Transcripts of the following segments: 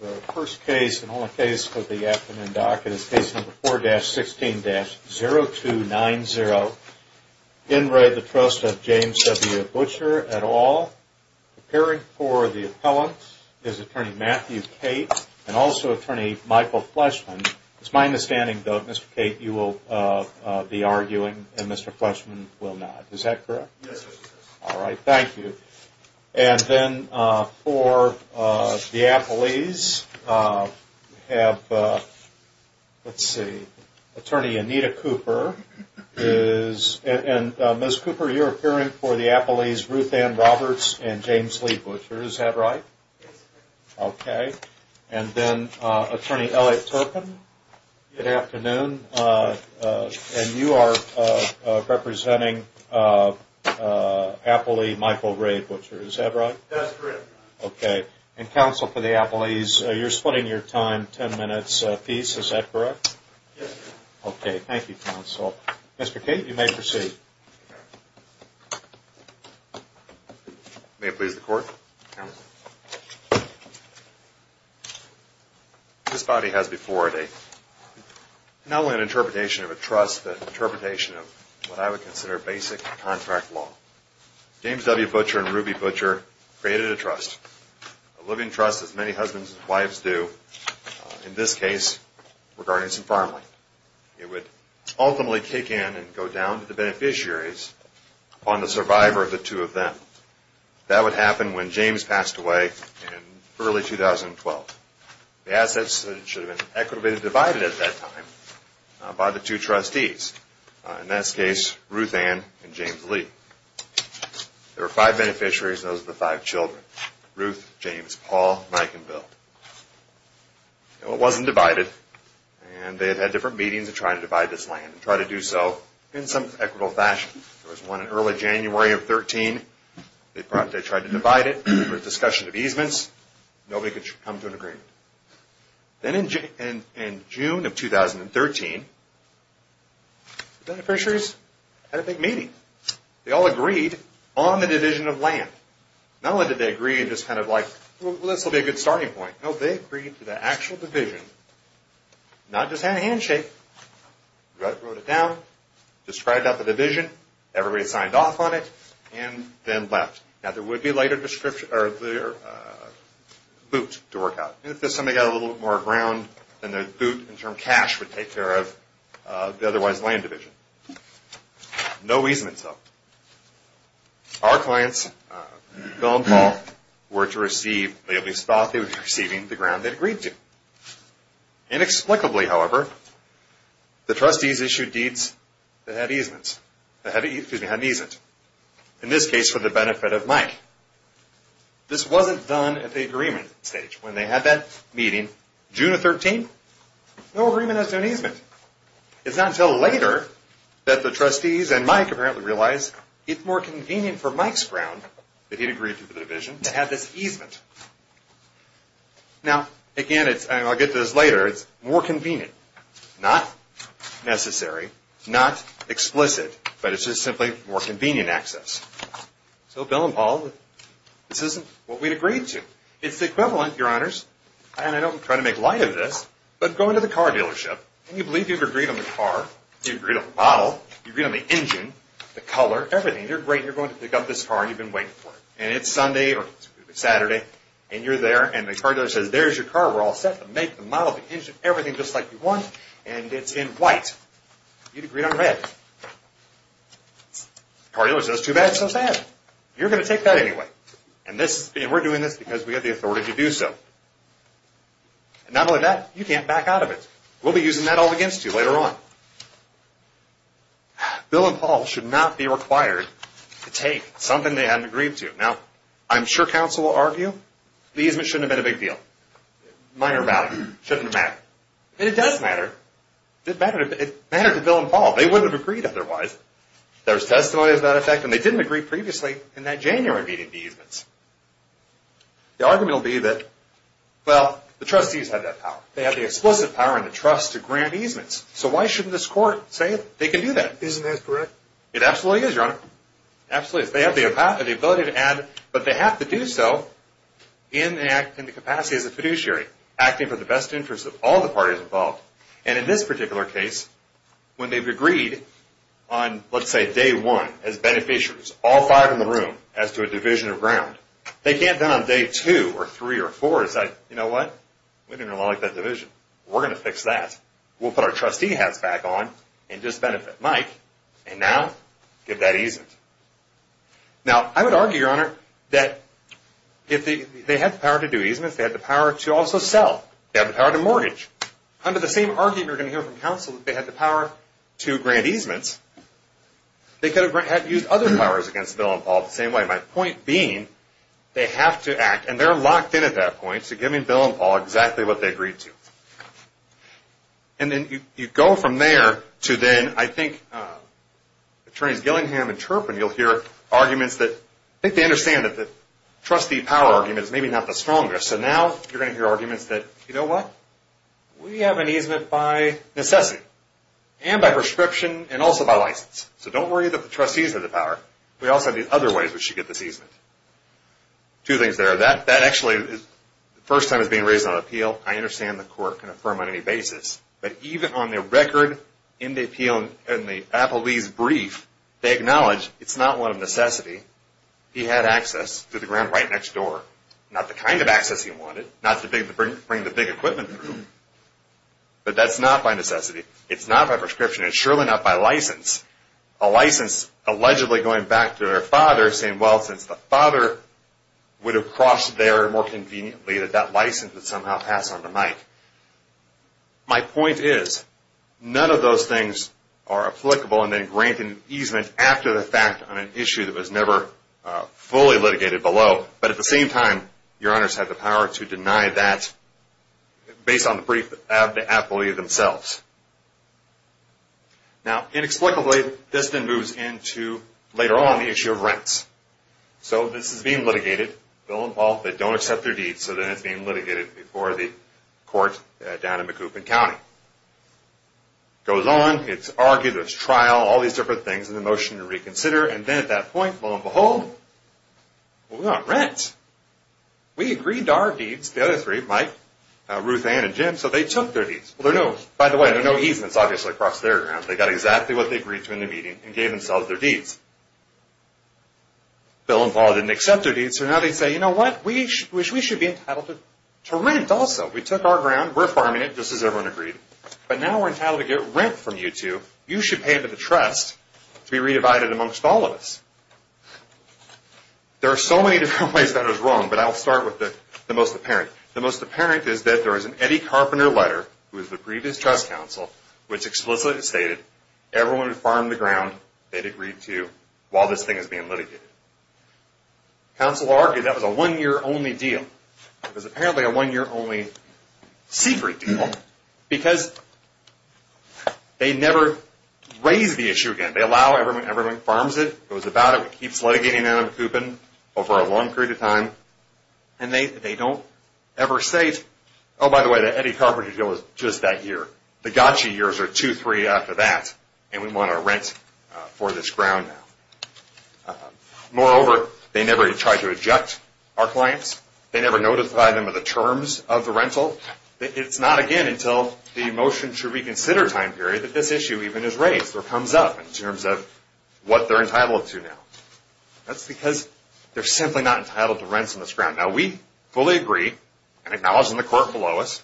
The first case and only case for the afternoon docket is case number 4-16-0290, in red, the Trust of James W. Butcher, et al., appearing for the appellant is attorney Matthew Cate and also attorney Michael Fleshman. It is my understanding, though, Mr. Cate, you will be arguing and Mr. Fleshman will not. Is that correct? Yes, it is. All right. Thank you. And then for the appellees, we have, let's see, attorney Anita Cooper is, and Ms. Cooper, you're appearing for the appellees Ruth Ann Roberts and James Lee Butcher. Is that right? Yes, sir. Okay. And then attorney Elliot Turpin, good afternoon, and you are representing appellee Michael Ray Butcher. Is that right? Yes, sir. Okay. And counsel, for the appellees, you're splitting your time ten minutes apiece. Is that correct? Yes, sir. Okay. Thank you, counsel. Mr. Cate, you may proceed. May it please the court. This body has before it not only an interpretation of a trust, but an interpretation of what I would consider basic contract law. James W. Butcher and Ruby Butcher created a trust, a living trust as many husbands and wives do, in this case, regarding some farmland. It would ultimately kick in and go down to the beneficiaries on the survivor of the two of them. That would happen when James passed away in early 2012. The assets should have been equitably divided at that time by the two trustees, in this There were five beneficiaries, and those were the five children, Ruth, James, Paul, Mike, and Bill. It wasn't divided, and they had had different meetings to try to divide this land and try to do so in some equitable fashion. There was one in early January of 2013. They tried to divide it. There was discussion of easements. Nobody could come to an agreement. Then in June of 2013, the beneficiaries had a big meeting. They all agreed on the division of land. Not only did they agree, and just kind of like, well, this will be a good starting point. No, they agreed to the actual division, not just have a handshake. Ruth wrote it down, described out the division, everybody signed off on it, and then left. Now, there would be a later boot to work out, and if somebody got a little more ground, then the boot, in terms of cash, would take care of the otherwise land division. No easements, though. Our clients, Bill and Paul, were to receive, they at least thought they would be receiving the ground they'd agreed to. Inexplicably, however, the trustees issued deeds that had easements, in this case, for the benefit of Mike. This wasn't done at the agreement stage. When they had that meeting, June of 2013, no agreement as to an easement. It's not until later that the trustees and Mike apparently realized it's more convenient for Mike's ground, that he'd agreed to for the division, to have this easement. Now, again, I'll get to this later, it's more convenient. Not necessary, not explicit, but it's just simply more convenient access. So Bill and Paul, this isn't what we'd agreed to. It's the equivalent, your honors, and I don't want to try to make light of this, but go believe you've agreed on the car, you've agreed on the model, you've agreed on the engine, the color, everything, you're great, you're going to pick up this car, and you've been waiting for it. And it's Sunday, or it's Saturday, and you're there, and the car dealer says, there's your car, we're all set, the make, the model, the engine, everything just like you want, and it's in white. You'd agreed on red. The car dealer says, too bad, so sad. You're going to take that anyway, and we're doing this because we have the authority to do so. And not only that, you can't back out of it. We'll be using that all against you later on. Bill and Paul should not be required to take something they hadn't agreed to. Now, I'm sure counsel will argue, the easement shouldn't have been a big deal. Minor value. Shouldn't have mattered. And it does matter. It mattered to Bill and Paul. They wouldn't have agreed otherwise. There's testimony to that effect, and they didn't agree previously in that January meeting of the easements. The argument will be that, well, the trustees have that power. They have the explicit power and the trust to grant easements. So why shouldn't this court say they can do that? Isn't that correct? It absolutely is, Your Honor. Absolutely is. They have the ability to add, but they have to do so in the capacity as a fiduciary, acting for the best interest of all the parties involved. And in this particular case, when they've agreed on, let's say, day one as beneficiaries, all five in the room, as to a division of ground, they can't then on day two or three or four say, you know what? We didn't really like that division. We're going to fix that. We'll put our trustee hats back on and disbenefit Mike, and now give that easement. Now, I would argue, Your Honor, that if they had the power to do easements, they had the power to also sell, they had the power to mortgage. Under the same argument you're going to hear from counsel, if they had the power to grant easements, they could have used other powers against Bill and Paul the same way. My point being, they have to act, and they're locked in at that point, so giving Bill and Paul exactly what they agreed to. And then you go from there to then, I think, Attorneys Gillingham and Turpin, you'll hear arguments that, I think they understand that the trustee power argument is maybe not the strongest. So now you're going to hear arguments that, you know what? We have an easement by necessity, and by prescription, and also by license. So don't worry that the trustees have the power. We also have these other ways we should get this easement. Two things there. That actually, the first time it was being raised on appeal, I understand the court can affirm on any basis, but even on the record, in the appeal, in the appellee's brief, they acknowledge it's not one of necessity. He had access to the ground right next door. Not the kind of access he wanted, not to bring the big equipment through. But that's not by necessity. It's not by prescription. It's surely not by license. A license allegedly going back to their father, saying, well, since the father would have crossed there more conveniently, that that license would somehow pass on to Mike. My point is, none of those things are applicable and then grant an easement after the fact on an issue that was never fully litigated below. But at the same time, your honors have the power to deny that based on the brief of the appellee themselves. Now, inexplicably, this then moves into, later on, the issue of rents. So this is being litigated. Bill and Paul, they don't accept their deeds, so then it's being litigated before the court down in Macoupin County. It goes on. It's argued. There's trial. All these different things in the motion to reconsider. And then at that point, lo and behold, we want rent. We agreed to our deeds, the other three, Mike, Ruthann, and Jim, so they took their deeds. By the way, there are no easements, obviously, across their grounds. They got exactly what they agreed to in the meeting and gave themselves their deeds. Bill and Paul didn't accept their deeds, so now they say, you know what? We should be entitled to rent also. We took our ground. We're farming it, just as everyone agreed. But now we're entitled to get rent from you two. You should pay into the trust to be re-divided amongst all of us. There are so many different ways that it was wrong, but I'll start with the most apparent. The most apparent is that there was an Eddie Carpenter letter, who was the previous trust counsel, which explicitly stated everyone would farm the ground they'd agreed to while this thing was being litigated. Counsel argued that was a one-year only deal. It was apparently a one-year only secret deal because they never raised the issue again. They allow everyone. Everyone farms it. It was about it. They don't ever say, oh, by the way, that Eddie Carpenter deal was just that year. The gotcha years are two, three after that, and we want to rent for this ground now. Moreover, they never try to eject our clients. They never notify them of the terms of the rental. It's not again until the motion to reconsider time period that this issue even is raised or comes up in terms of what they're entitled to now. That's because they're simply not entitled to rents on this ground. Now, we fully agree and acknowledge in the court below us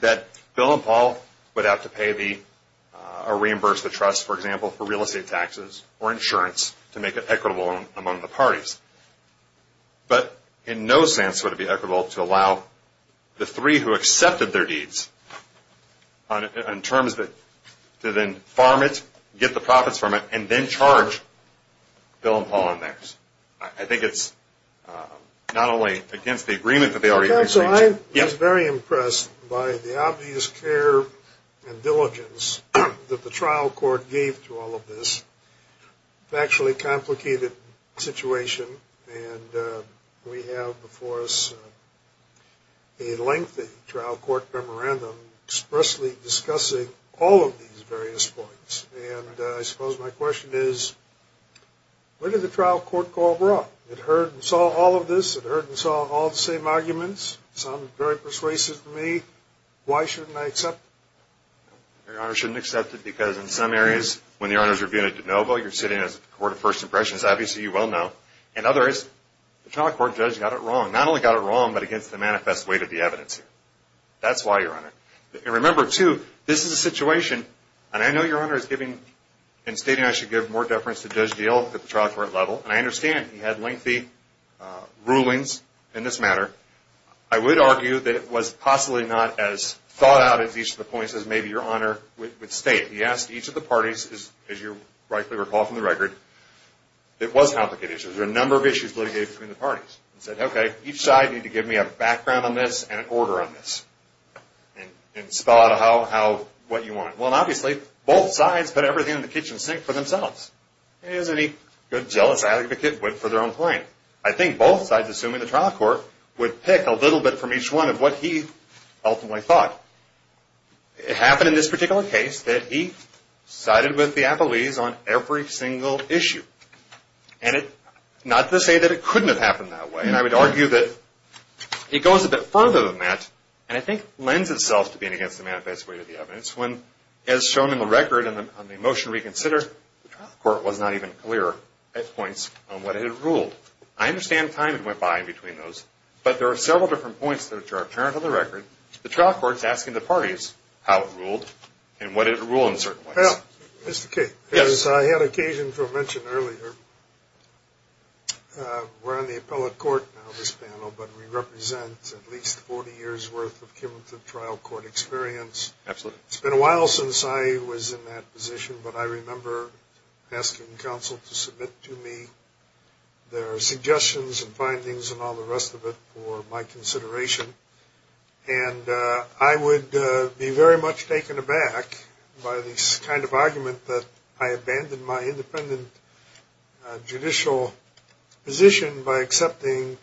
that Bill and Paul would have to pay the or reimburse the trust, for example, for real estate taxes or insurance to make it equitable among the parties. But in no sense would it be equitable to allow the three who accepted their deeds in terms of it to then farm it, get the profits from it, and then charge Bill and Paul on theirs. I think it's not only against the agreement that they already made. So I was very impressed by the obvious care and diligence that the trial court gave to all of this. It's actually a complicated situation, and we have before us a lengthy trial court memorandum expressly discussing all of these various points. And I suppose my question is, what did the trial court call wrong? It heard and saw all of this. It heard and saw all the same arguments. It sounded very persuasive to me. Why shouldn't I accept it? Your Honor, you shouldn't accept it because in some areas, when the Honor is reviewing a de novo, you're sitting as a court of first impressions. Obviously, you well know. In other areas, the trial court judge got it wrong. That's why, Your Honor. And remember, too, this is a situation, and I know Your Honor is giving, and stating I should give more deference to Judge Dale at the trial court level, and I understand he had lengthy rulings in this matter. I would argue that it was possibly not as thought out as each of the points as maybe Your Honor would state. He asked each of the parties, as you rightly recall from the record, it was complicated. There were a number of issues litigated between the parties. He said, okay, each side need to give me a background on this and an order on this. And spell out what you want. Well, obviously, both sides put everything in the kitchen sink for themselves, as any good, jealous advocate would for their own client. I think both sides, assuming the trial court, would pick a little bit from each one of what he ultimately thought. It happened in this particular case that he sided with the appellees on every single issue. And not to say that it couldn't have happened that way, and I would argue that it goes a bit further than that, and I think lends itself to being against the manifest way of the evidence, when, as shown in the record on the motion reconsider, the trial court was not even clear at points on what it had ruled. I understand time had went by between those, but there are several different points that are apparent on the record. The trial court is asking the parties how it ruled and what it ruled in certain ways. Well, Mr. King, as I had occasion to mention earlier, we're on the appellate court now, this panel, but we represent at least 40 years' worth of cumulative trial court experience. Absolutely. It's been a while since I was in that position, but I remember asking counsel to submit to me their suggestions and findings and all the rest of it for my consideration. And I would be very much taken aback by this kind of argument that I abandoned my independent judicial position by accepting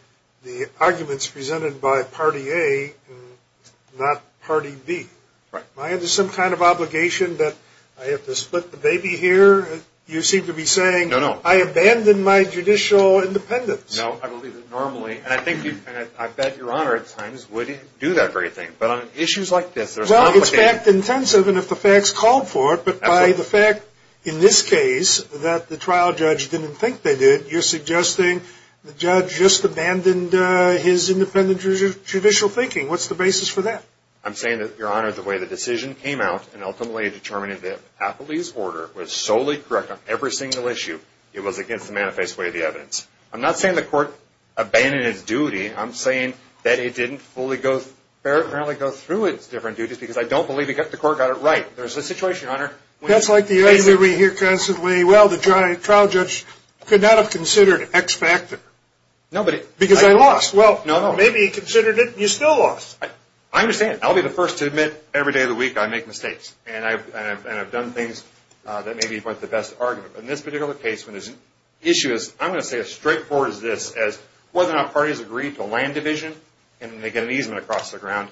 the arguments presented by Party A and not Party B. Am I under some kind of obligation that I have to split the baby here? You seem to be saying I abandoned my judicial independence. No, I believe that normally. And I bet Your Honor at times wouldn't do that very thing. But on issues like this, there's complications. Well, it's fact-intensive, and if the facts called for it, but by the fact in this case that the trial judge didn't think they did, you're suggesting the judge just abandoned his independent judicial thinking. What's the basis for that? I'm saying that, Your Honor, the way the decision came out and ultimately determined that Appellee's order was solely correct on every single issue, it was against the manifest way of the evidence. I'm not saying the court abandoned its duty. I'm saying that it didn't fully go through its different duties because I don't believe the court got it right. There's a situation, Your Honor. That's like the argument we hear constantly, well, the trial judge could not have considered X factor because I lost. Well, maybe he considered it, and you still lost. I understand. I'll be the first to admit every day of the week I make mistakes, and I've done things that maybe weren't the best argument. But in this particular case, when there's an issue, I'm going to say as straightforward as this, as whether or not parties agreed to a land division and then they get an easement across the ground,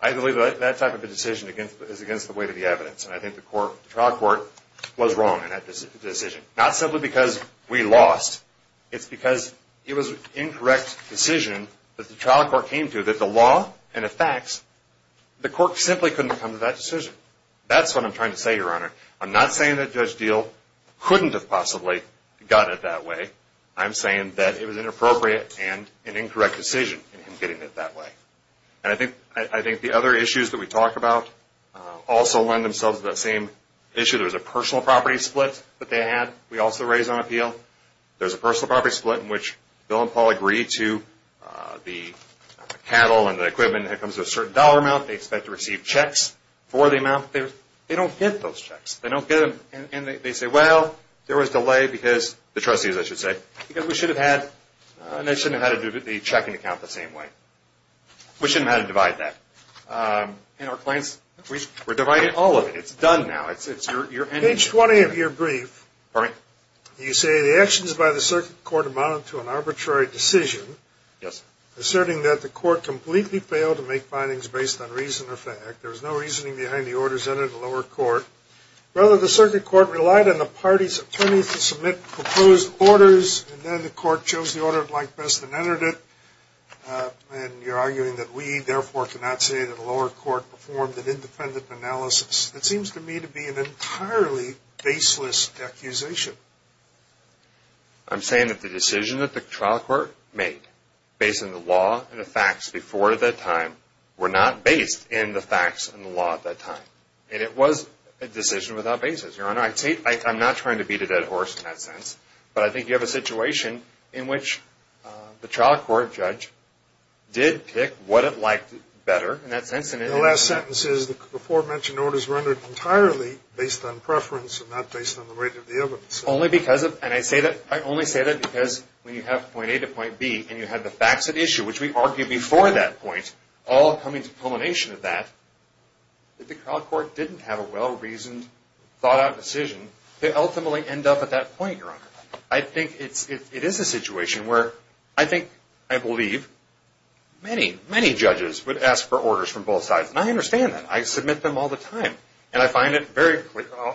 I believe that type of a decision is against the way of the evidence, and I think the trial court was wrong in that decision. Not simply because we lost. It's because it was an incorrect decision that the trial court came to that the law and the facts, the court simply couldn't come to that decision. That's what I'm trying to say, Your Honor. I'm not saying that Judge Diehl couldn't have possibly gotten it that way. I'm saying that it was inappropriate and an incorrect decision in him getting it that way. And I think the other issues that we talk about also lend themselves to that same issue. There was a personal property split that they had we also raised on appeal. There's a personal property split in which Bill and Paul agree to the cattle and the equipment that comes with a certain dollar amount. They expect to receive checks for the amount. They don't get those checks. They don't get them. And they say, well, there was delay because the trustees, I should say, because we shouldn't have had to do the checking account the same way. We shouldn't have had to divide that. And our clients, we're dividing all of it. It's done now. It's your ending. Page 20 of your brief, you say the actions by the circuit court amount to an arbitrary decision. Yes. Asserting that the court completely failed to make findings based on reason or fact. There was no reasoning behind the orders entered in the lower court. Rather, the circuit court relied on the party's attorneys to submit proposed orders, and then the court chose the order it liked best and entered it. And you're arguing that we, therefore, cannot say that the lower court performed an independent analysis. It seems to me to be an entirely baseless accusation. I'm saying that the decision that the trial court made based on the law and the facts before that time were not based in the facts and the law at that time. And it was a decision without basis. Your Honor, I'm not trying to beat a dead horse in that sense, but I think you have a situation in which the trial court judge did pick what it liked better in that sense. The last sentence is the aforementioned order is rendered entirely based on preference and not based on the rate of the evidence. Only because of, and I say that, I only say that because when you have point A to point B and you have the facts at issue, which we argued before that point, all coming to a culmination of that, if the trial court didn't have a well-reasoned, thought-out decision, they ultimately end up at that point, Your Honor. I think it is a situation where I think I believe many, many judges would ask for orders from both sides. And I understand that. I submit them all the time. And I find it very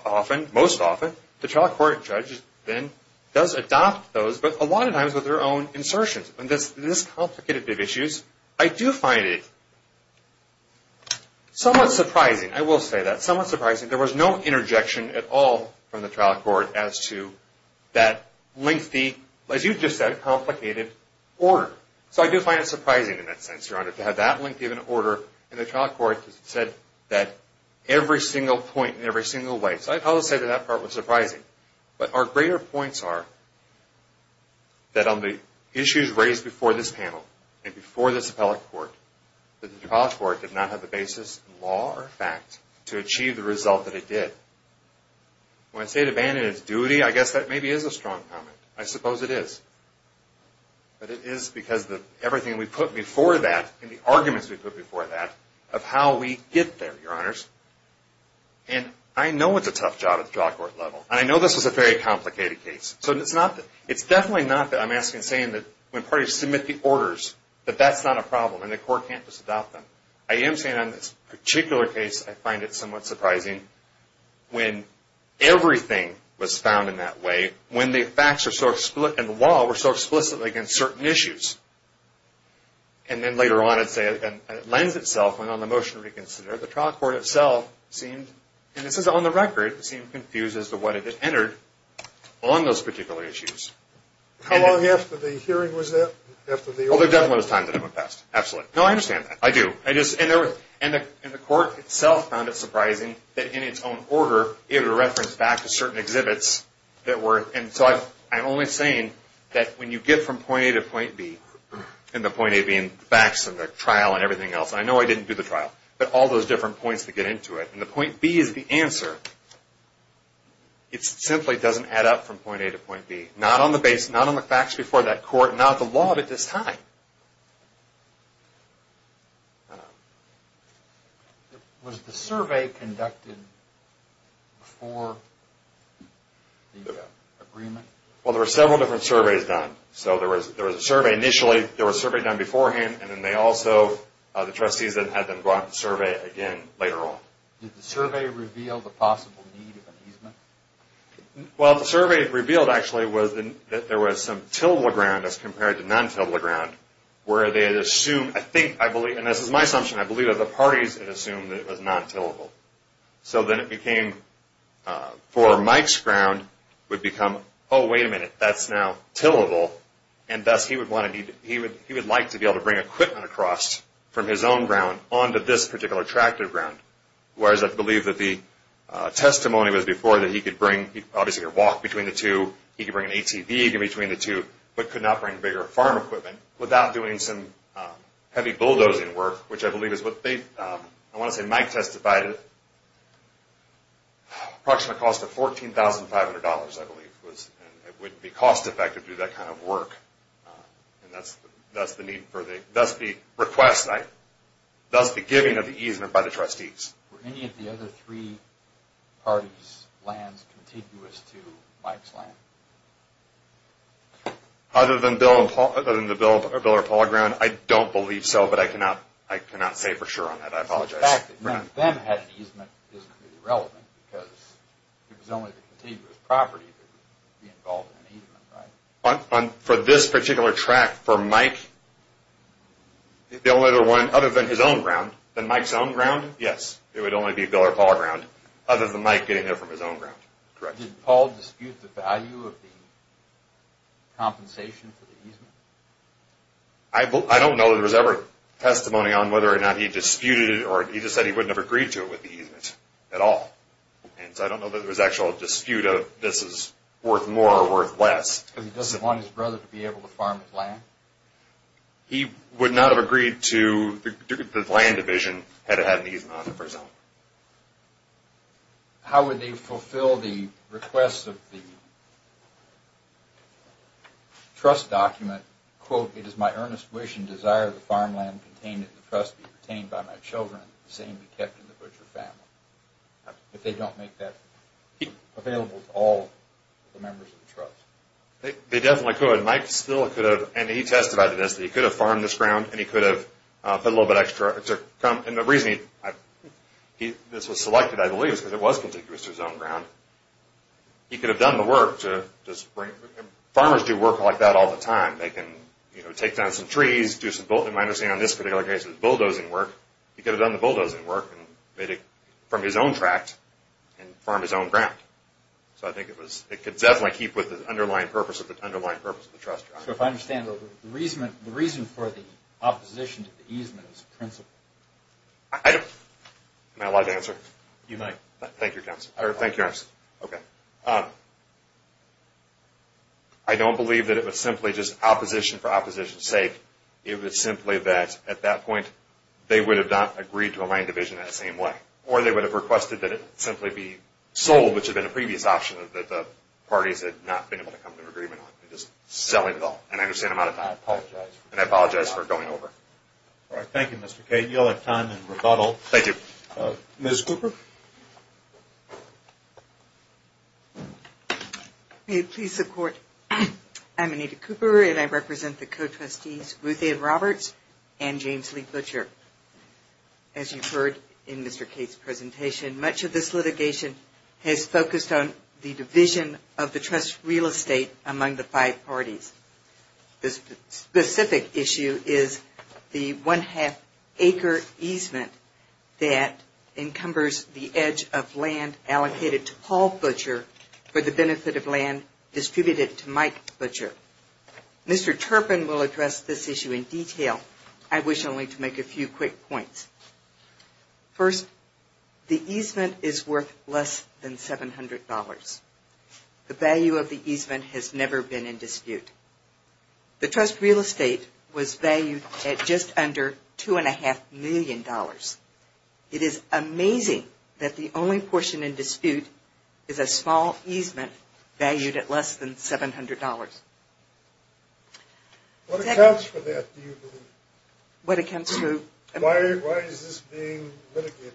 often, most often, the trial court judge then does adopt those, but a lot of times with their own insertions. And this complicated issues, I do find it somewhat surprising. I will say that. Somewhat surprising. There was no interjection at all from the trial court as to that lengthy, as you just said, complicated order. So I do find it surprising in that sense, Your Honor, to have that lengthy of an order in the trial court that said that every single point in every single way. So I'd probably say that that part was surprising. But our greater points are that on the issues raised before this panel and before this appellate court, that the trial court did not have the basis in law or fact to achieve the result that it did. When I say it abandoned its duty, I guess that maybe is a strong comment. I suppose it is. But it is because of everything we put before that and the arguments we put before that of how we get there, Your Honors. And I know it's a tough job at the trial court level. And I know this was a very complicated case. So it's definitely not that I'm saying that when parties submit the orders, that that's not a problem and the court can't just adopt them. I am saying on this particular case, I find it somewhat surprising when everything was found in that way, when the facts and the law were so explicitly against certain issues. And then later on, it lends itself on the motion to reconsider. The trial court itself seemed, and this is on the record, seemed confused as to what it had entered on those particular issues. How long after the hearing was that? Well, there definitely was time that it went past. Absolutely. No, I understand that. I do. And the court itself found it surprising that in its own order, it had referenced back to certain exhibits that were. And so I'm only saying that when you get from point A to point B, and the point A being facts and the trial and everything else. And I know I didn't do the trial, but all those different points that get into it. And the point B is the answer. It simply doesn't add up from point A to point B. Not on the base, not on the facts before that court, not the law of it this time. Was the survey conducted before the agreement? Well, there were several different surveys done. So there was a survey initially, there was a survey done beforehand, and then they also, the trustees then had them go out and survey again later on. Did the survey reveal the possible need of an easement? Well, the survey revealed, actually, was that there was some tillable ground as compared to non-tillable ground, where they had assumed, I think, I believe, and this is my assumption, I believe that the parties had assumed that it was non-tillable. So then it became, for Mike's ground, would become, oh, wait a minute, that's now tillable. And thus, he would like to be able to bring equipment across from his own ground onto this particular tract of ground. Whereas I believe that the testimony was before that he could bring, obviously, a walk between the two, he could bring an ATV in between the two, but could not bring bigger farm equipment without doing some heavy bulldozing work, which I believe is what they, I want to say Mike testified, approximately cost of $14,500, I believe, and it would be cost effective to do that kind of work, and thus the request, thus the giving of the easement by the trustees. Were any of the other three parties' lands contiguous to Mike's land? Other than the Biller-Paul ground, I don't believe so, but the fact that none of them had an easement isn't really relevant because it was only the contiguous property that would be involved in an easement, right? For this particular tract, for Mike, the only other one, other than his own ground, than Mike's own ground, yes, it would only be Biller-Paul ground, other than Mike getting it from his own ground, correct. I don't know that there was ever testimony on whether or not he disputed it or he just said he wouldn't have agreed to it with the easement at all, and so I don't know that there was actual dispute of this is worth more or worth less. Because he doesn't want his brother to be able to farm his land? He would not have agreed to the land division had it had an easement on it, for example. How would they fulfill the request of the trust document, quote, it is my earnest wish and desire that the farmland contained in the trust be retained by my children and the same be kept in the Butcher family? If they don't make that available to all the members of the trust. They definitely could. Mike still could have, and he testified to this, that he could have farmed this ground and he could have put a little bit extra. And the reason this was selected, I believe, is because it was contiguous to his own ground. He could have done the work to just bring it. Farmers do work like that all the time. They can take down some trees, do some bulldozing work. He could have done the bulldozing work and made it from his own tract and farmed his own ground. So I think it could definitely keep with the underlying purpose of the trust. So if I understand, the reason for the opposition to the easement is principled. Am I allowed to answer? You might. Thank you, Counselor. I don't believe that it was simply just opposition for opposition's sake. It was simply that at that point they would have not agreed to a land division in that same way. Or they would have requested that it simply be sold, which had been a previous option that the parties had not been able to come to an agreement on. I understand and I apologize for going over. Thank you, Mr. Cate. You'll have time in rebuttal. Thank you. Ms. Cooper? May it please the Court, I'm Anita Cooper and I represent the co-trustees Ruth Ann Roberts and James Lee Butcher. As you've heard in Mr. Cate's presentation, much of this litigation has focused on the division of the trust's real estate among the five parties. The specific issue is the one-half acre easement that encumbers the edge of land allocated to Paul Butcher for the benefit of land distributed to Mike Butcher. Mr. Turpin will address this issue in detail. I wish only to make a few quick points. First, the easement is worth less than $700. The value of the easement has never been in dispute. The trust real estate was valued at just under $2.5 million. It is amazing that the only portion in dispute is a small easement valued at less than $700. What accounts for that, do you believe? What accounts for... Why is this being litigated?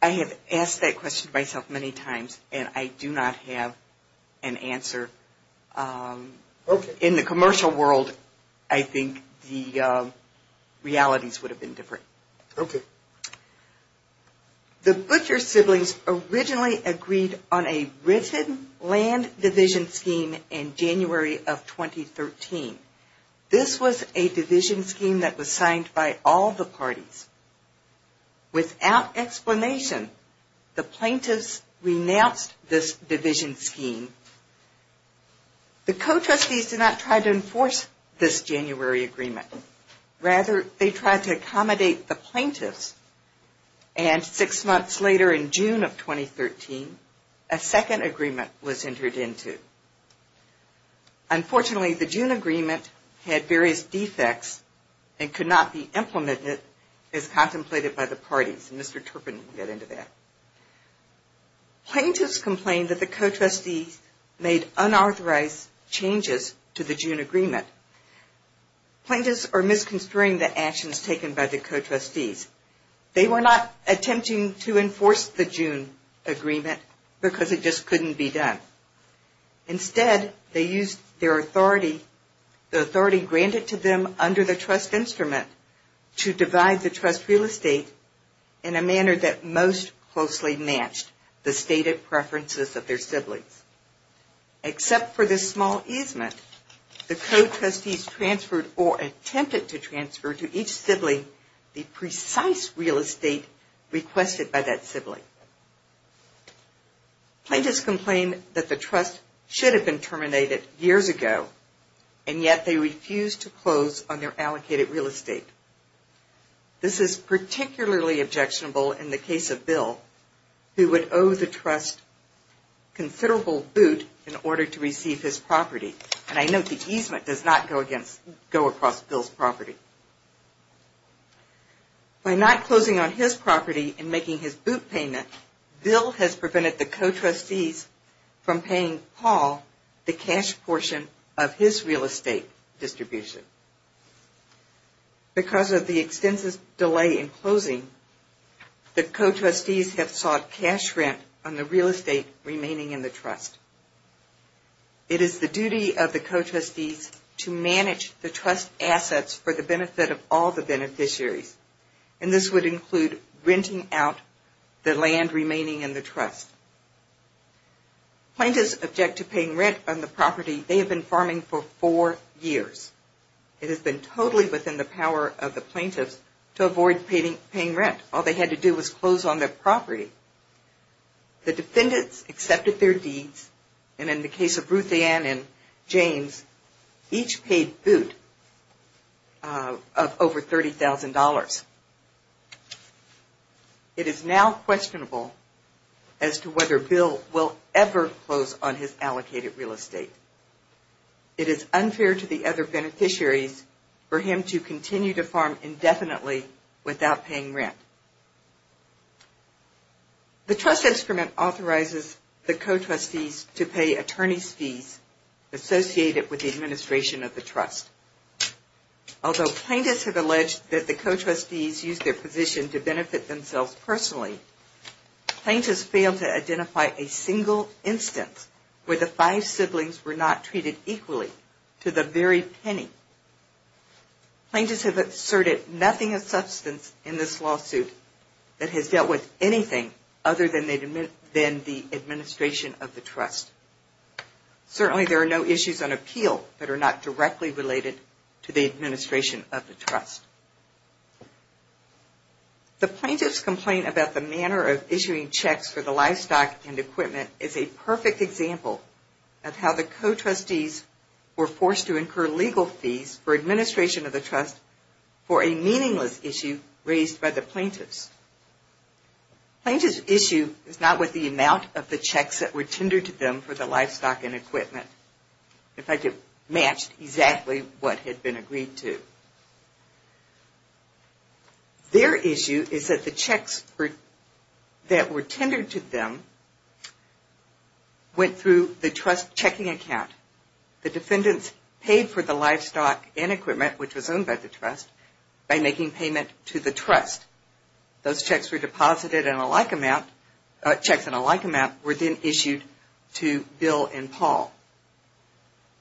I have asked that question myself many times and I do not have an answer. In the commercial world, I think the realities would have been different. Okay. The Butcher siblings originally agreed on a written land division scheme in January of 2013. This was a division scheme that was signed by all the parties. Without explanation, the plaintiffs renounced this division scheme. The co-trustees did not try to enforce this January agreement. Rather, they tried to accommodate the plaintiffs and six months later in June of 2013, a second agreement was entered into. Unfortunately, the June agreement had various defects and could not be implemented as contemplated by the parties. Mr. Turpin will get into that. Plaintiffs complained that the co-trustees made unauthorized changes to the June agreement. Plaintiffs are misconstruing the actions taken by the co-trustees. They were not attempting to enforce the June agreement because it just couldn't be done. Instead, they used their authority, the authority granted to them under the trust instrument, to divide the trust real estate in a manner that most closely matched the stated preferences of their siblings. Except for this small easement, the co-trustees transferred or attempted to transfer to each sibling the precise real estate requested by that sibling. Plaintiffs complained that the trust should have been terminated years ago, and yet they refused to close on their allocated real estate. This is particularly objectionable in the case of Bill, who would owe the trust considerable boot in order to receive his property. And I note the easement does not go across Bill's property. By not closing on his property and making his boot payment, Bill has prevented the co-trustees from paying Paul the cash portion of his real estate distribution. Because of the extensive delay in closing, the co-trustees have sought cash rent on the real estate remaining in the trust. It is the duty of the co-trustees to manage the trust assets for the benefit of all the beneficiaries, and this would include renting out the land remaining in the trust. Plaintiffs object to paying rent on the property they have been farming for four years. It has been totally within the power of the plaintiffs to avoid paying rent. All they had to do was close on their property. The defendants accepted their deeds, and in the case of Ruthanne and James, each paid boot of over $30,000. It is now questionable as to whether Bill will ever close on his allocated real estate. It is unfair to the other beneficiaries for him to continue to farm indefinitely without paying rent. The trust instrument authorizes the co-trustees to pay attorney's fees associated with the administration of the trust. Although plaintiffs have alleged that the co-trustees used their position to benefit themselves personally, plaintiffs fail to identify a single instance where the five siblings were not treated equally to the very penny. Plaintiffs have asserted nothing of substance in this lawsuit that has dealt with anything other than the administration of the trust. Certainly there are no issues on appeal that are not directly related to the administration of the trust. The plaintiffs' complaint about the manner of issuing checks for the livestock and equipment is a perfect example of how the co-trustees were forced to incur legal fees for administration of the trust for a meaningless issue raised by the plaintiffs. The plaintiffs' issue is not with the amount of the checks that were tendered to them for the livestock and equipment. In fact, it matched exactly what had been agreed to. Their issue is that the checks that were tendered to them went through the trust checking account. The defendants paid for the livestock and equipment, which was owned by the trust, by making payment to the trust. Those checks were deposited in a like amount, checks in a like amount, were then issued to Bill and Paul.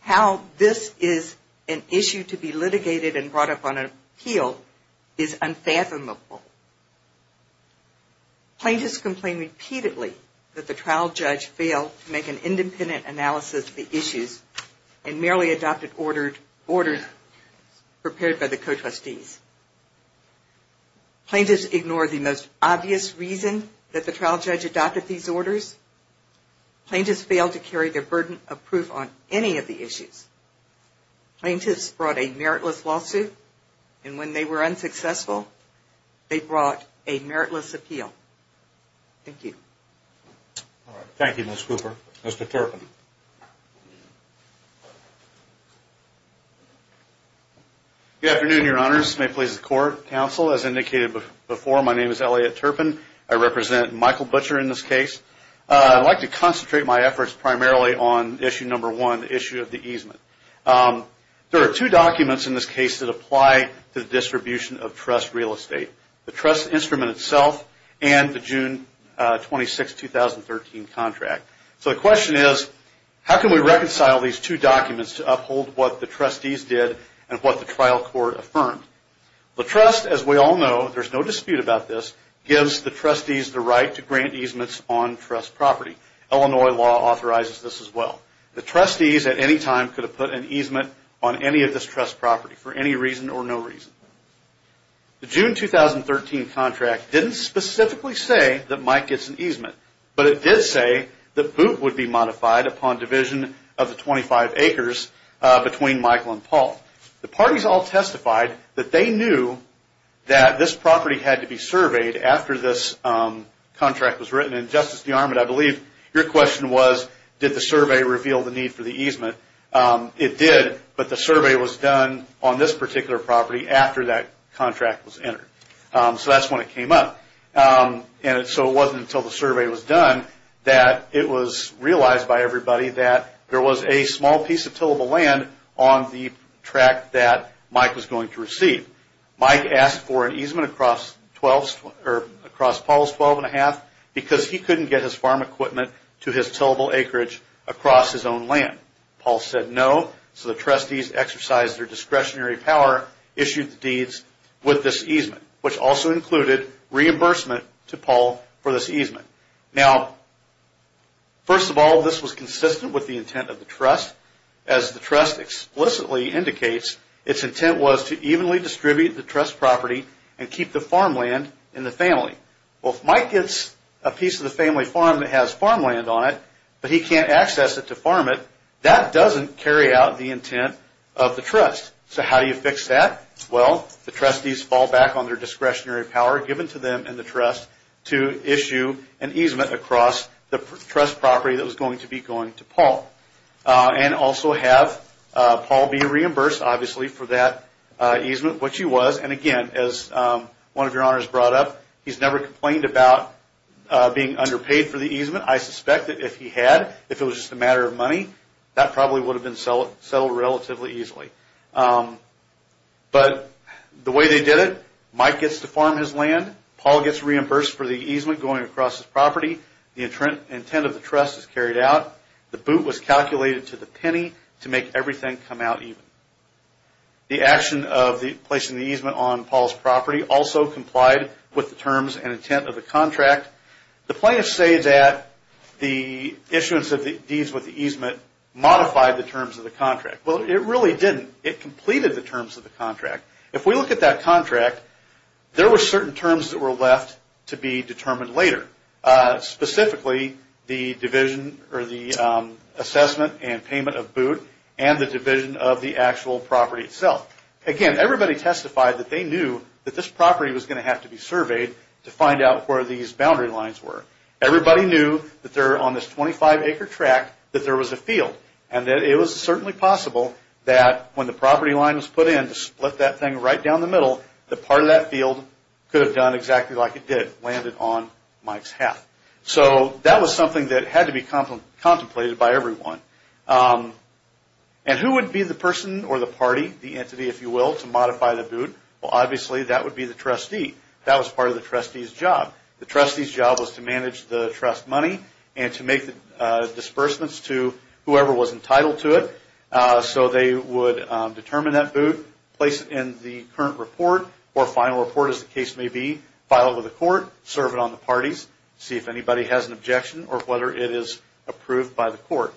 How this is an issue to be litigated and brought up on appeal is unfathomable. Plaintiffs complain repeatedly that the trial judge failed to make an independent analysis of the issues and merely adopted orders prepared by the co-trustees. Plaintiffs ignore the most obvious reason that the trial judge adopted these orders. Plaintiffs failed to carry their burden of proof on any of the issues. Plaintiffs brought a meritless lawsuit, and when they were unsuccessful, they brought a meritless appeal. Thank you. Thank you, Ms. Cooper. Mr. Turpin. Good afternoon, Your Honors. May it please the Court, Counsel, as indicated before, my name is Elliot Turpin. I represent Michael Butcher in this case. I'd like to concentrate my efforts primarily on issue number one, the issue of the easement. There are two documents in this case that apply to the distribution of trust real estate, the trust instrument itself and the June 26, 2013 contract. So the question is, how can we reconcile these two documents to uphold what the trustees did and what the trial court affirmed? The trust, as we all know, there's no dispute about this, gives the trustees the right to grant easements on trust property. Illinois law authorizes this as well. The trustees at any time could have put an easement on any of this trust property for any reason or no reason. The June 2013 contract didn't specifically say that Mike gets an easement, but it did say that boot would be modified upon division of the 25 acres between Michael and Paul. The parties all testified that they knew that this property had to be surveyed after this contract was written. And Justice DeArmond, I believe your question was, did the survey reveal the need for the easement? It did, but the survey was done on this particular property after that contract was entered. So that's when it came up. So it wasn't until the survey was done that it was realized by everybody that there was a small piece of tillable land on the track that Mike was going to receive. Mike asked for an easement across Paul's 12.5 because he couldn't get his farm equipment to his tillable acreage across his own land. Paul said no, so the trustees exercised their discretionary power, issued the deeds with this easement, which also included reimbursement to Paul for this easement. Now, first of all, this was consistent with the intent of the trust. As the trust explicitly indicates, its intent was to evenly distribute the trust property and keep the farmland in the family. Well, if Mike gets a piece of the family farm that has farmland on it, but he can't access it to farm it, that doesn't carry out the intent of the trust. So how do you fix that? Well, the trustees fall back on their discretionary power given to them and the trust to issue an easement across the trust property that was going to be going to Paul. And also have Paul be reimbursed, obviously, for that easement, which he was. And again, as one of your honors brought up, he's never complained about being underpaid for the easement. I suspect that if he had, if it was just a matter of money, that probably would have been settled relatively easily. But the way they did it, Mike gets to farm his land, Paul gets reimbursed for the easement going across his property, the intent of the trust is carried out, the boot was calculated to the penny to make everything come out even. The action of placing the easement on Paul's property also complied with the terms and intent of the contract. The plaintiffs say that the issuance of the deeds with the easement modified the terms of the contract. Well, it really didn't. It completed the terms of the contract. If we look at that contract, there were certain terms that were left to be determined later, specifically the division or the assessment and payment of boot and the division of the actual property itself. Again, everybody testified that they knew that this property was going to have to be surveyed to find out where these boundary lines were. Everybody knew that they're on this 25-acre track, that there was a field, and that it was certainly possible that when the property line was put in to split that thing right down the middle, that part of that field could have done exactly like it did, landed on Mike's half. So that was something that had to be contemplated by everyone. And who would be the person or the party, the entity, if you will, to modify the boot? Well, obviously, that would be the trustee. That was part of the trustee's job. The trustee's job was to manage the trust money and to make the disbursements to whoever was entitled to it. So they would determine that boot, place it in the current report or final report, as the case may be, file it with the court, serve it on the parties, see if anybody has an objection or whether it is approved by the court.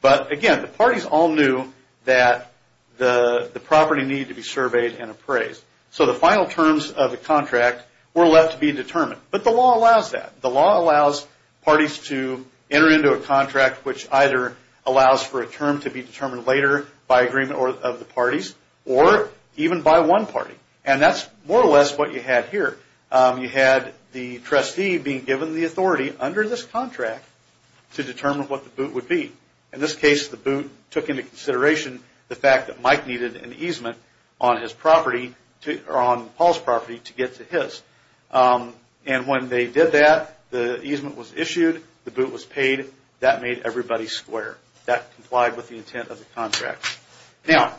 But again, the parties all knew that the property needed to be surveyed and appraised. So the final terms of the contract were left to be determined. But the law allows that. The law allows parties to enter into a contract which either allows for a term to be determined later by agreement of the parties or even by one party. And that's more or less what you had here. You had the trustee being given the authority under this contract to determine what the boot would be. In this case, the boot took into consideration the fact that Mike needed an easement on his property, or on Paul's property, to get to his. And when they did that, the easement was issued, the boot was paid. That made everybody square. That complied with the intent of the contract. Now,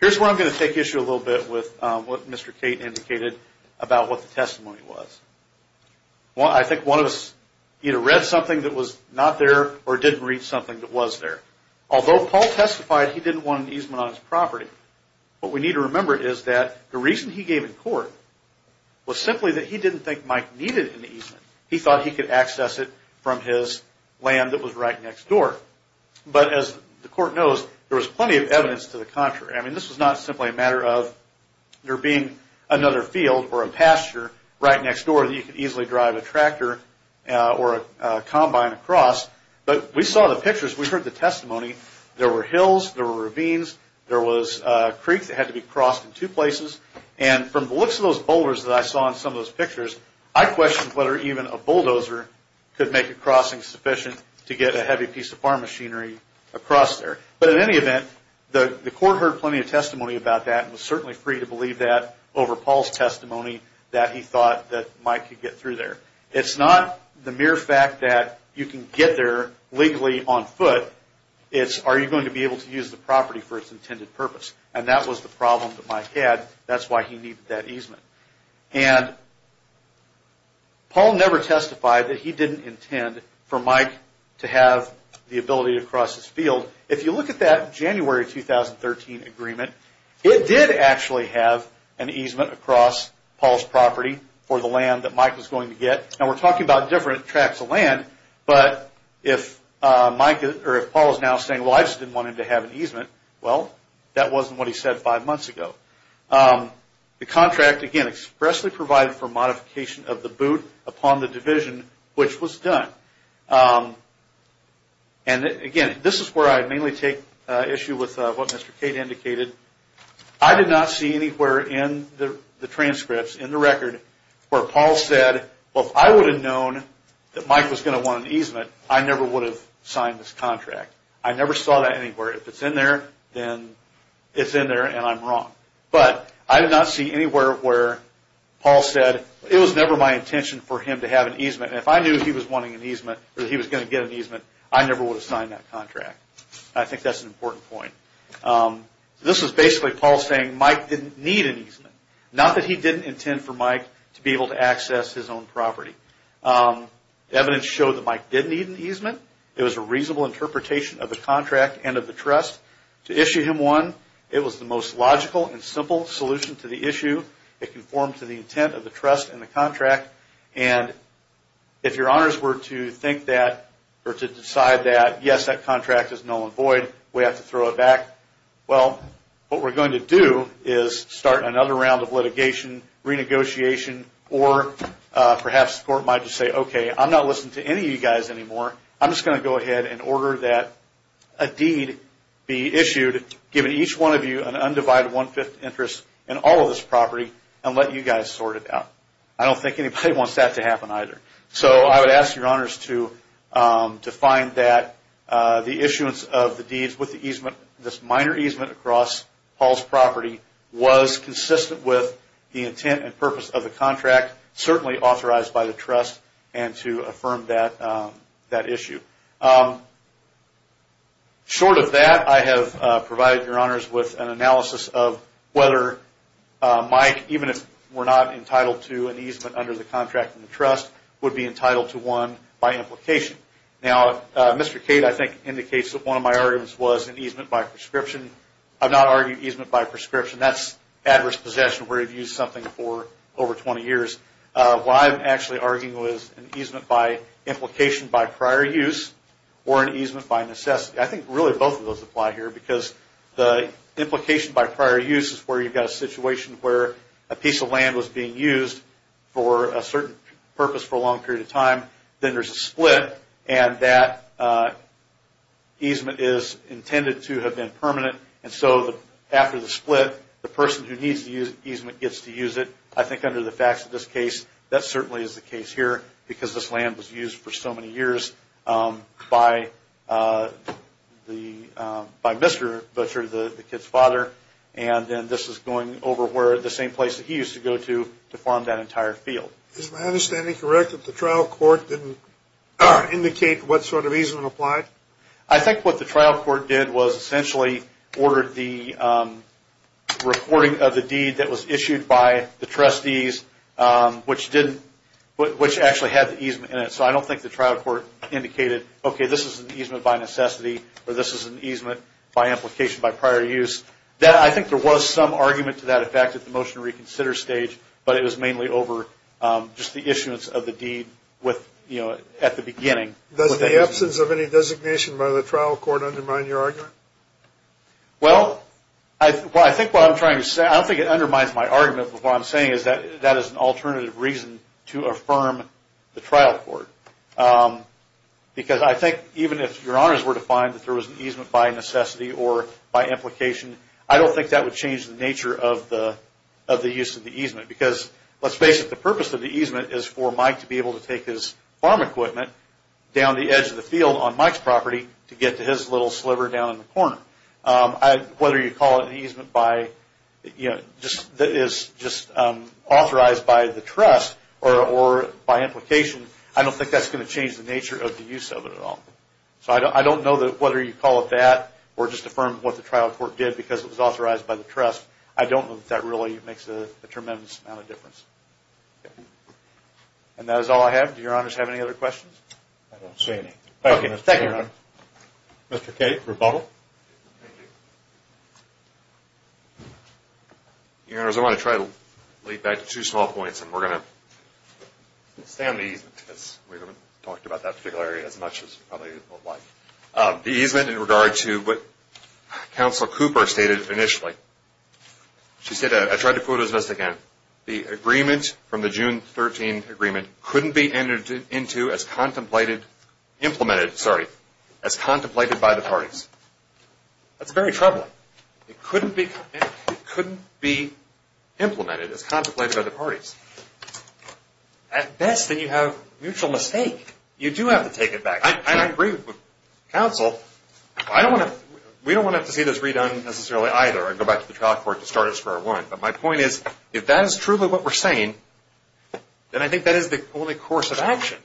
here's where I'm going to take issue a little bit with what Mr. Cate indicated about what the testimony was. I think one of us either read something that was not there or didn't read something that was there. Although Paul testified he didn't want an easement on his property, what we need to remember is that the reason he gave in court was simply that he didn't think Mike needed an easement. He thought he could access it from his land that was right next door. But as the court knows, there was plenty of evidence to the contrary. I mean, this was not simply a matter of there being another field or a pasture right next door that you could easily drive a tractor or a combine across. But we saw the pictures, we heard the testimony. There were hills, there were ravines, there was a creek that had to be crossed in two places. And from the looks of those boulders that I saw in some of those pictures, I questioned whether even a bulldozer could make a crossing sufficient to get a heavy piece of farm machinery across there. But in any event, the court heard plenty of testimony about that and was certainly free to believe that over Paul's testimony that he thought that Mike could get through there. It's not the mere fact that you can get there legally on foot. It's are you going to be able to use the property for its intended purpose. And that was the problem that Mike had. That's why he needed that easement. And Paul never testified that he didn't intend for Mike to have the ability to cross his field. So if you look at that January 2013 agreement, it did actually have an easement across Paul's property for the land that Mike was going to get. Now we're talking about different tracts of land, but if Paul is now saying, well I just didn't want him to have an easement, well that wasn't what he said five months ago. The contract again expressly provided for modification of the boot upon the division, which was done. And again, this is where I mainly take issue with what Mr. Cade indicated. I did not see anywhere in the transcripts, in the record, where Paul said, well if I would have known that Mike was going to want an easement, I never would have signed this contract. I never saw that anywhere. If it's in there, then it's in there and I'm wrong. But I did not see anywhere where Paul said it was never my intention for him to have an easement. If I knew he was going to get an easement, I never would have signed that contract. I think that's an important point. This is basically Paul saying Mike didn't need an easement. Not that he didn't intend for Mike to be able to access his own property. Evidence showed that Mike did need an easement. It was a reasonable interpretation of the contract and of the trust. To issue him one, it was the most logical and simple solution to the issue. It conformed to the intent of the trust and the contract. If your honors were to think that, or to decide that, yes, that contract is null and void, we have to throw it back. Well, what we're going to do is start another round of litigation, renegotiation, or perhaps the court might just say, okay, I'm not listening to any of you guys anymore. I'm just going to go ahead and order that a deed be issued, giving each one of you an undivided one-fifth interest in all of this property, and let you guys sort it out. I don't think anybody wants that to happen either. So I would ask your honors to find that the issuance of the deeds with this minor easement across Paul's property was consistent with the intent and purpose of the contract, certainly authorized by the trust, and to affirm that issue. Short of that, I have provided your honors with an analysis of whether Mike, even if we're not entitled to an easement under the contract in the trust, would be entitled to one by implication. Now, Mr. Cade, I think, indicates that one of my arguments was an easement by prescription. I've not argued easement by prescription. That's adverse possession where you've used something for over 20 years. What I'm actually arguing was an easement by implication by prior use or an easement by necessity. I think really both of those apply here because the implication by prior use is where you've got a situation where a piece of land was being used for a certain purpose for a long period of time. Then there's a split, and that easement is intended to have been permanent. And so after the split, the person who needs the easement gets to use it. I think under the facts of this case, that certainly is the case here because this land was used for so many years by Mr. Butcher, the kid's father, and then this is going over the same place that he used to go to to farm that entire field. Is my understanding correct that the trial court didn't indicate what sort of easement applied? I think what the trial court did was essentially ordered the recording of the deed that was issued by the trustees, which actually had the easement in it. So I don't think the trial court indicated, okay, this is an easement by necessity, or this is an easement by implication by prior use. I think there was some argument to that effect at the motion to reconsider stage, but it was mainly over just the issuance of the deed at the beginning. Does the absence of any designation by the trial court undermine your argument? Well, I think what I'm trying to say, I don't think it undermines my argument, but what I'm saying is that that is an alternative reason to affirm the trial court. Because I think even if your honors were to find that there was an easement by necessity or by implication, I don't think that would change the nature of the use of the easement. Because let's face it, the purpose of the easement is for Mike to be able to take his farm equipment down the edge of the field on Mike's property to get to his little sliver down in the corner. Whether you call it an easement that is just authorized by the trust or by implication, I don't think that's going to change the nature of the use of it at all. So I don't know whether you call it that or just affirm what the trial court did because it was authorized by the trust. I don't know that that really makes a tremendous amount of difference. And that is all I have. Do your honors have any other questions? I don't see any. Okay, thank you, Your Honor. Mr. Cate, rebuttal. Thank you. Your honors, I want to try to lead back to two small points, and we're going to stay on the easement, because we haven't talked about that particular area as much as we probably would like. The easement in regard to what Counselor Cooper stated initially. She said, I tried to quote as best I can, the agreement from the June 13 agreement couldn't be implemented as contemplated by the parties. That's very troubling. It couldn't be implemented as contemplated by the parties. At best, then you have mutual mistake. You do have to take it back. I agree with Counsel. We don't want to have to see this redone necessarily either. I'd go back to the trial court to start us for a win. But my point is, if that is truly what we're saying, then I think that is the only course of action.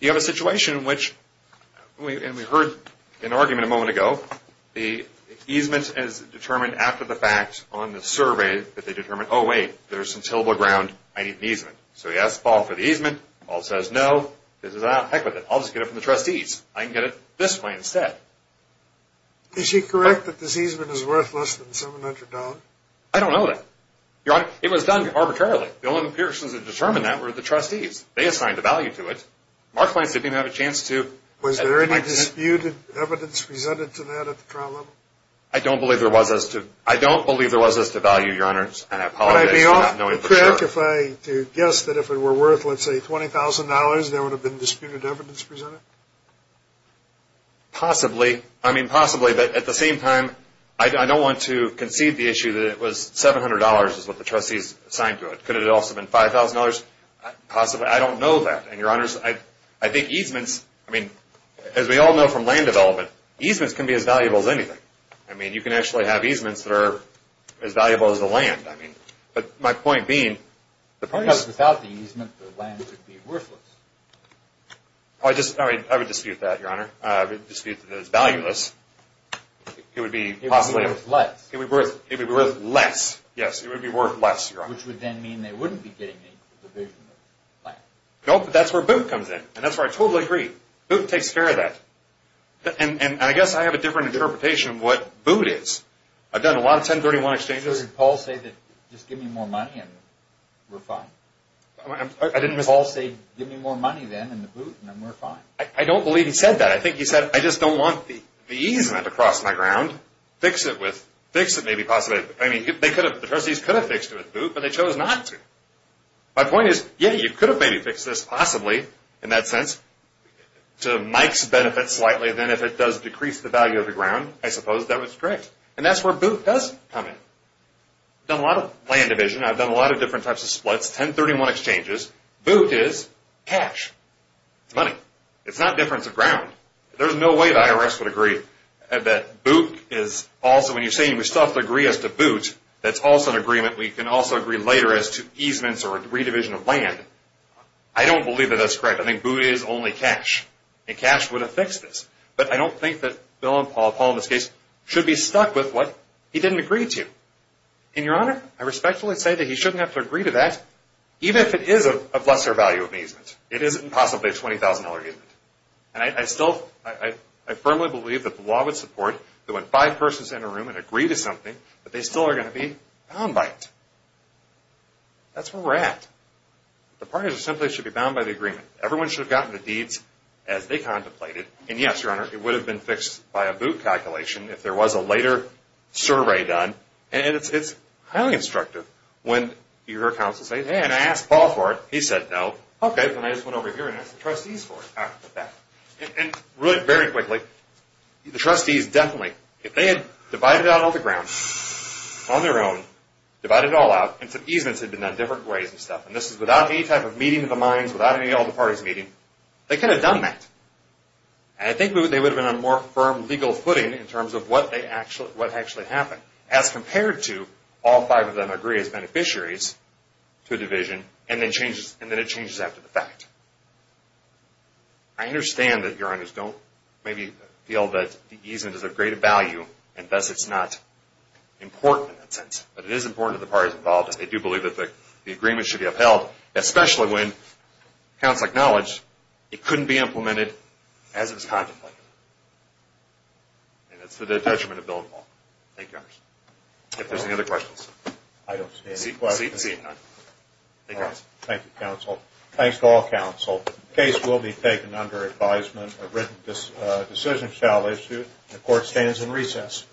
You have a situation in which, and we heard an argument a moment ago, the easement is determined after the fact on the survey that they determined, oh, wait, there's some tillable ground. I need an easement. So he asks Paul for the easement. Paul says, no, this is out. Heck with it. I'll just get it from the trustees. I can get it this way instead. Is she correct that the easement is worth less than $700? I don't know that. Your Honor, it was done arbitrarily. The only persons that determined that were the trustees. They assigned a value to it. Mark Lance didn't have a chance to. Was there any disputed evidence presented to that at the trial level? I don't believe there was as to value, Your Honor, and I apologize for not knowing for sure. Would I be off the track to guess that if it were worth, let's say, $20,000, there would have been disputed evidence presented? Possibly. I mean, possibly. But at the same time, I don't want to concede the issue that it was $700 is what the trustees assigned to it. Could it have also been $5,000? Possibly. I don't know that. And, Your Honors, I think easements, I mean, as we all know from land development, easements can be as valuable as anything. I mean, you can actually have easements that are as valuable as the land. But my point being, the point is – Without the easement, the land would be worthless. I would dispute that, Your Honor. I would dispute that it's valueless. It would be possibly – It would be worth less. It would be worth less. Yes. It would be worth less, Your Honor. Which would then mean they wouldn't be getting any for the division of land. No, but that's where BOOT comes in, and that's where I totally agree. BOOT takes care of that. And I guess I have a different interpretation of what BOOT is. I've done a lot of 1031 exchanges. Sir, did Paul say that just give me more money and we're fine? I didn't miss – Did Paul say give me more money then in the BOOT and then we're fine? I don't believe he said that. I think he said, I just don't want the easement across my ground. Fix it with – fix it maybe possibly – I mean, they could have – the trustees could have fixed it with BOOT, but they chose not to. My point is, yeah, you could have maybe fixed this possibly, in that sense, to Mike's benefit slightly. Then if it does decrease the value of the ground, I suppose that was correct. And that's where BOOT does come in. I've done a lot of land division. I've done a lot of different types of splits. That's 1031 exchanges. BOOT is cash. It's money. It's not difference of ground. There's no way the IRS would agree that BOOT is also – when you're saying we still have to agree as to BOOT, that's also an agreement we can also agree later as to easements or redivision of land. I don't believe that that's correct. I think BOOT is only cash. And cash would have fixed this. But I don't think that Bill and Paul, Paul in this case, should be stuck with what he didn't agree to. And, Your Honor, I respectfully say that he shouldn't have to agree to that, even if it is of lesser value ameasement. It isn't possibly a $20,000 ameasement. And I still – I firmly believe that the law would support that when five persons enter a room and agree to something, that they still are going to be bound by it. That's where we're at. The parties simply should be bound by the agreement. Everyone should have gotten the deeds as they contemplated. And, yes, Your Honor, it would have been fixed by a BOOT calculation if there was a later survey done. And it's highly instructive when your counsel says, Hey, and I asked Paul for it. He said no. Okay, then I just went over here and asked the trustees for it. All right, put that. And really, very quickly, the trustees definitely, if they had divided out all the ground on their own, divided it all out, and some easements had been done different ways and stuff, and this is without any type of meeting of the minds, without any of the parties meeting, they could have done that. And I think they would have been on a more firm legal footing in terms of what actually happened, as compared to all five of them agree as beneficiaries to a division, and then it changes after the fact. I understand that, Your Honors, don't maybe feel that the easement is of greater value, and thus it's not important in that sense. But it is important to the parties involved that they do believe that the agreement should be upheld, especially when counsel acknowledged it couldn't be implemented as it was contemplated. And that's the detachment of Bill and Paul. Thank you, Your Honors. If there's any other questions. I don't see any questions. See you. Thank you, counsel. Thank you, counsel. Thanks to all counsel. The case will be taken under advisement, a written decision shall issue, and the court stands in recess.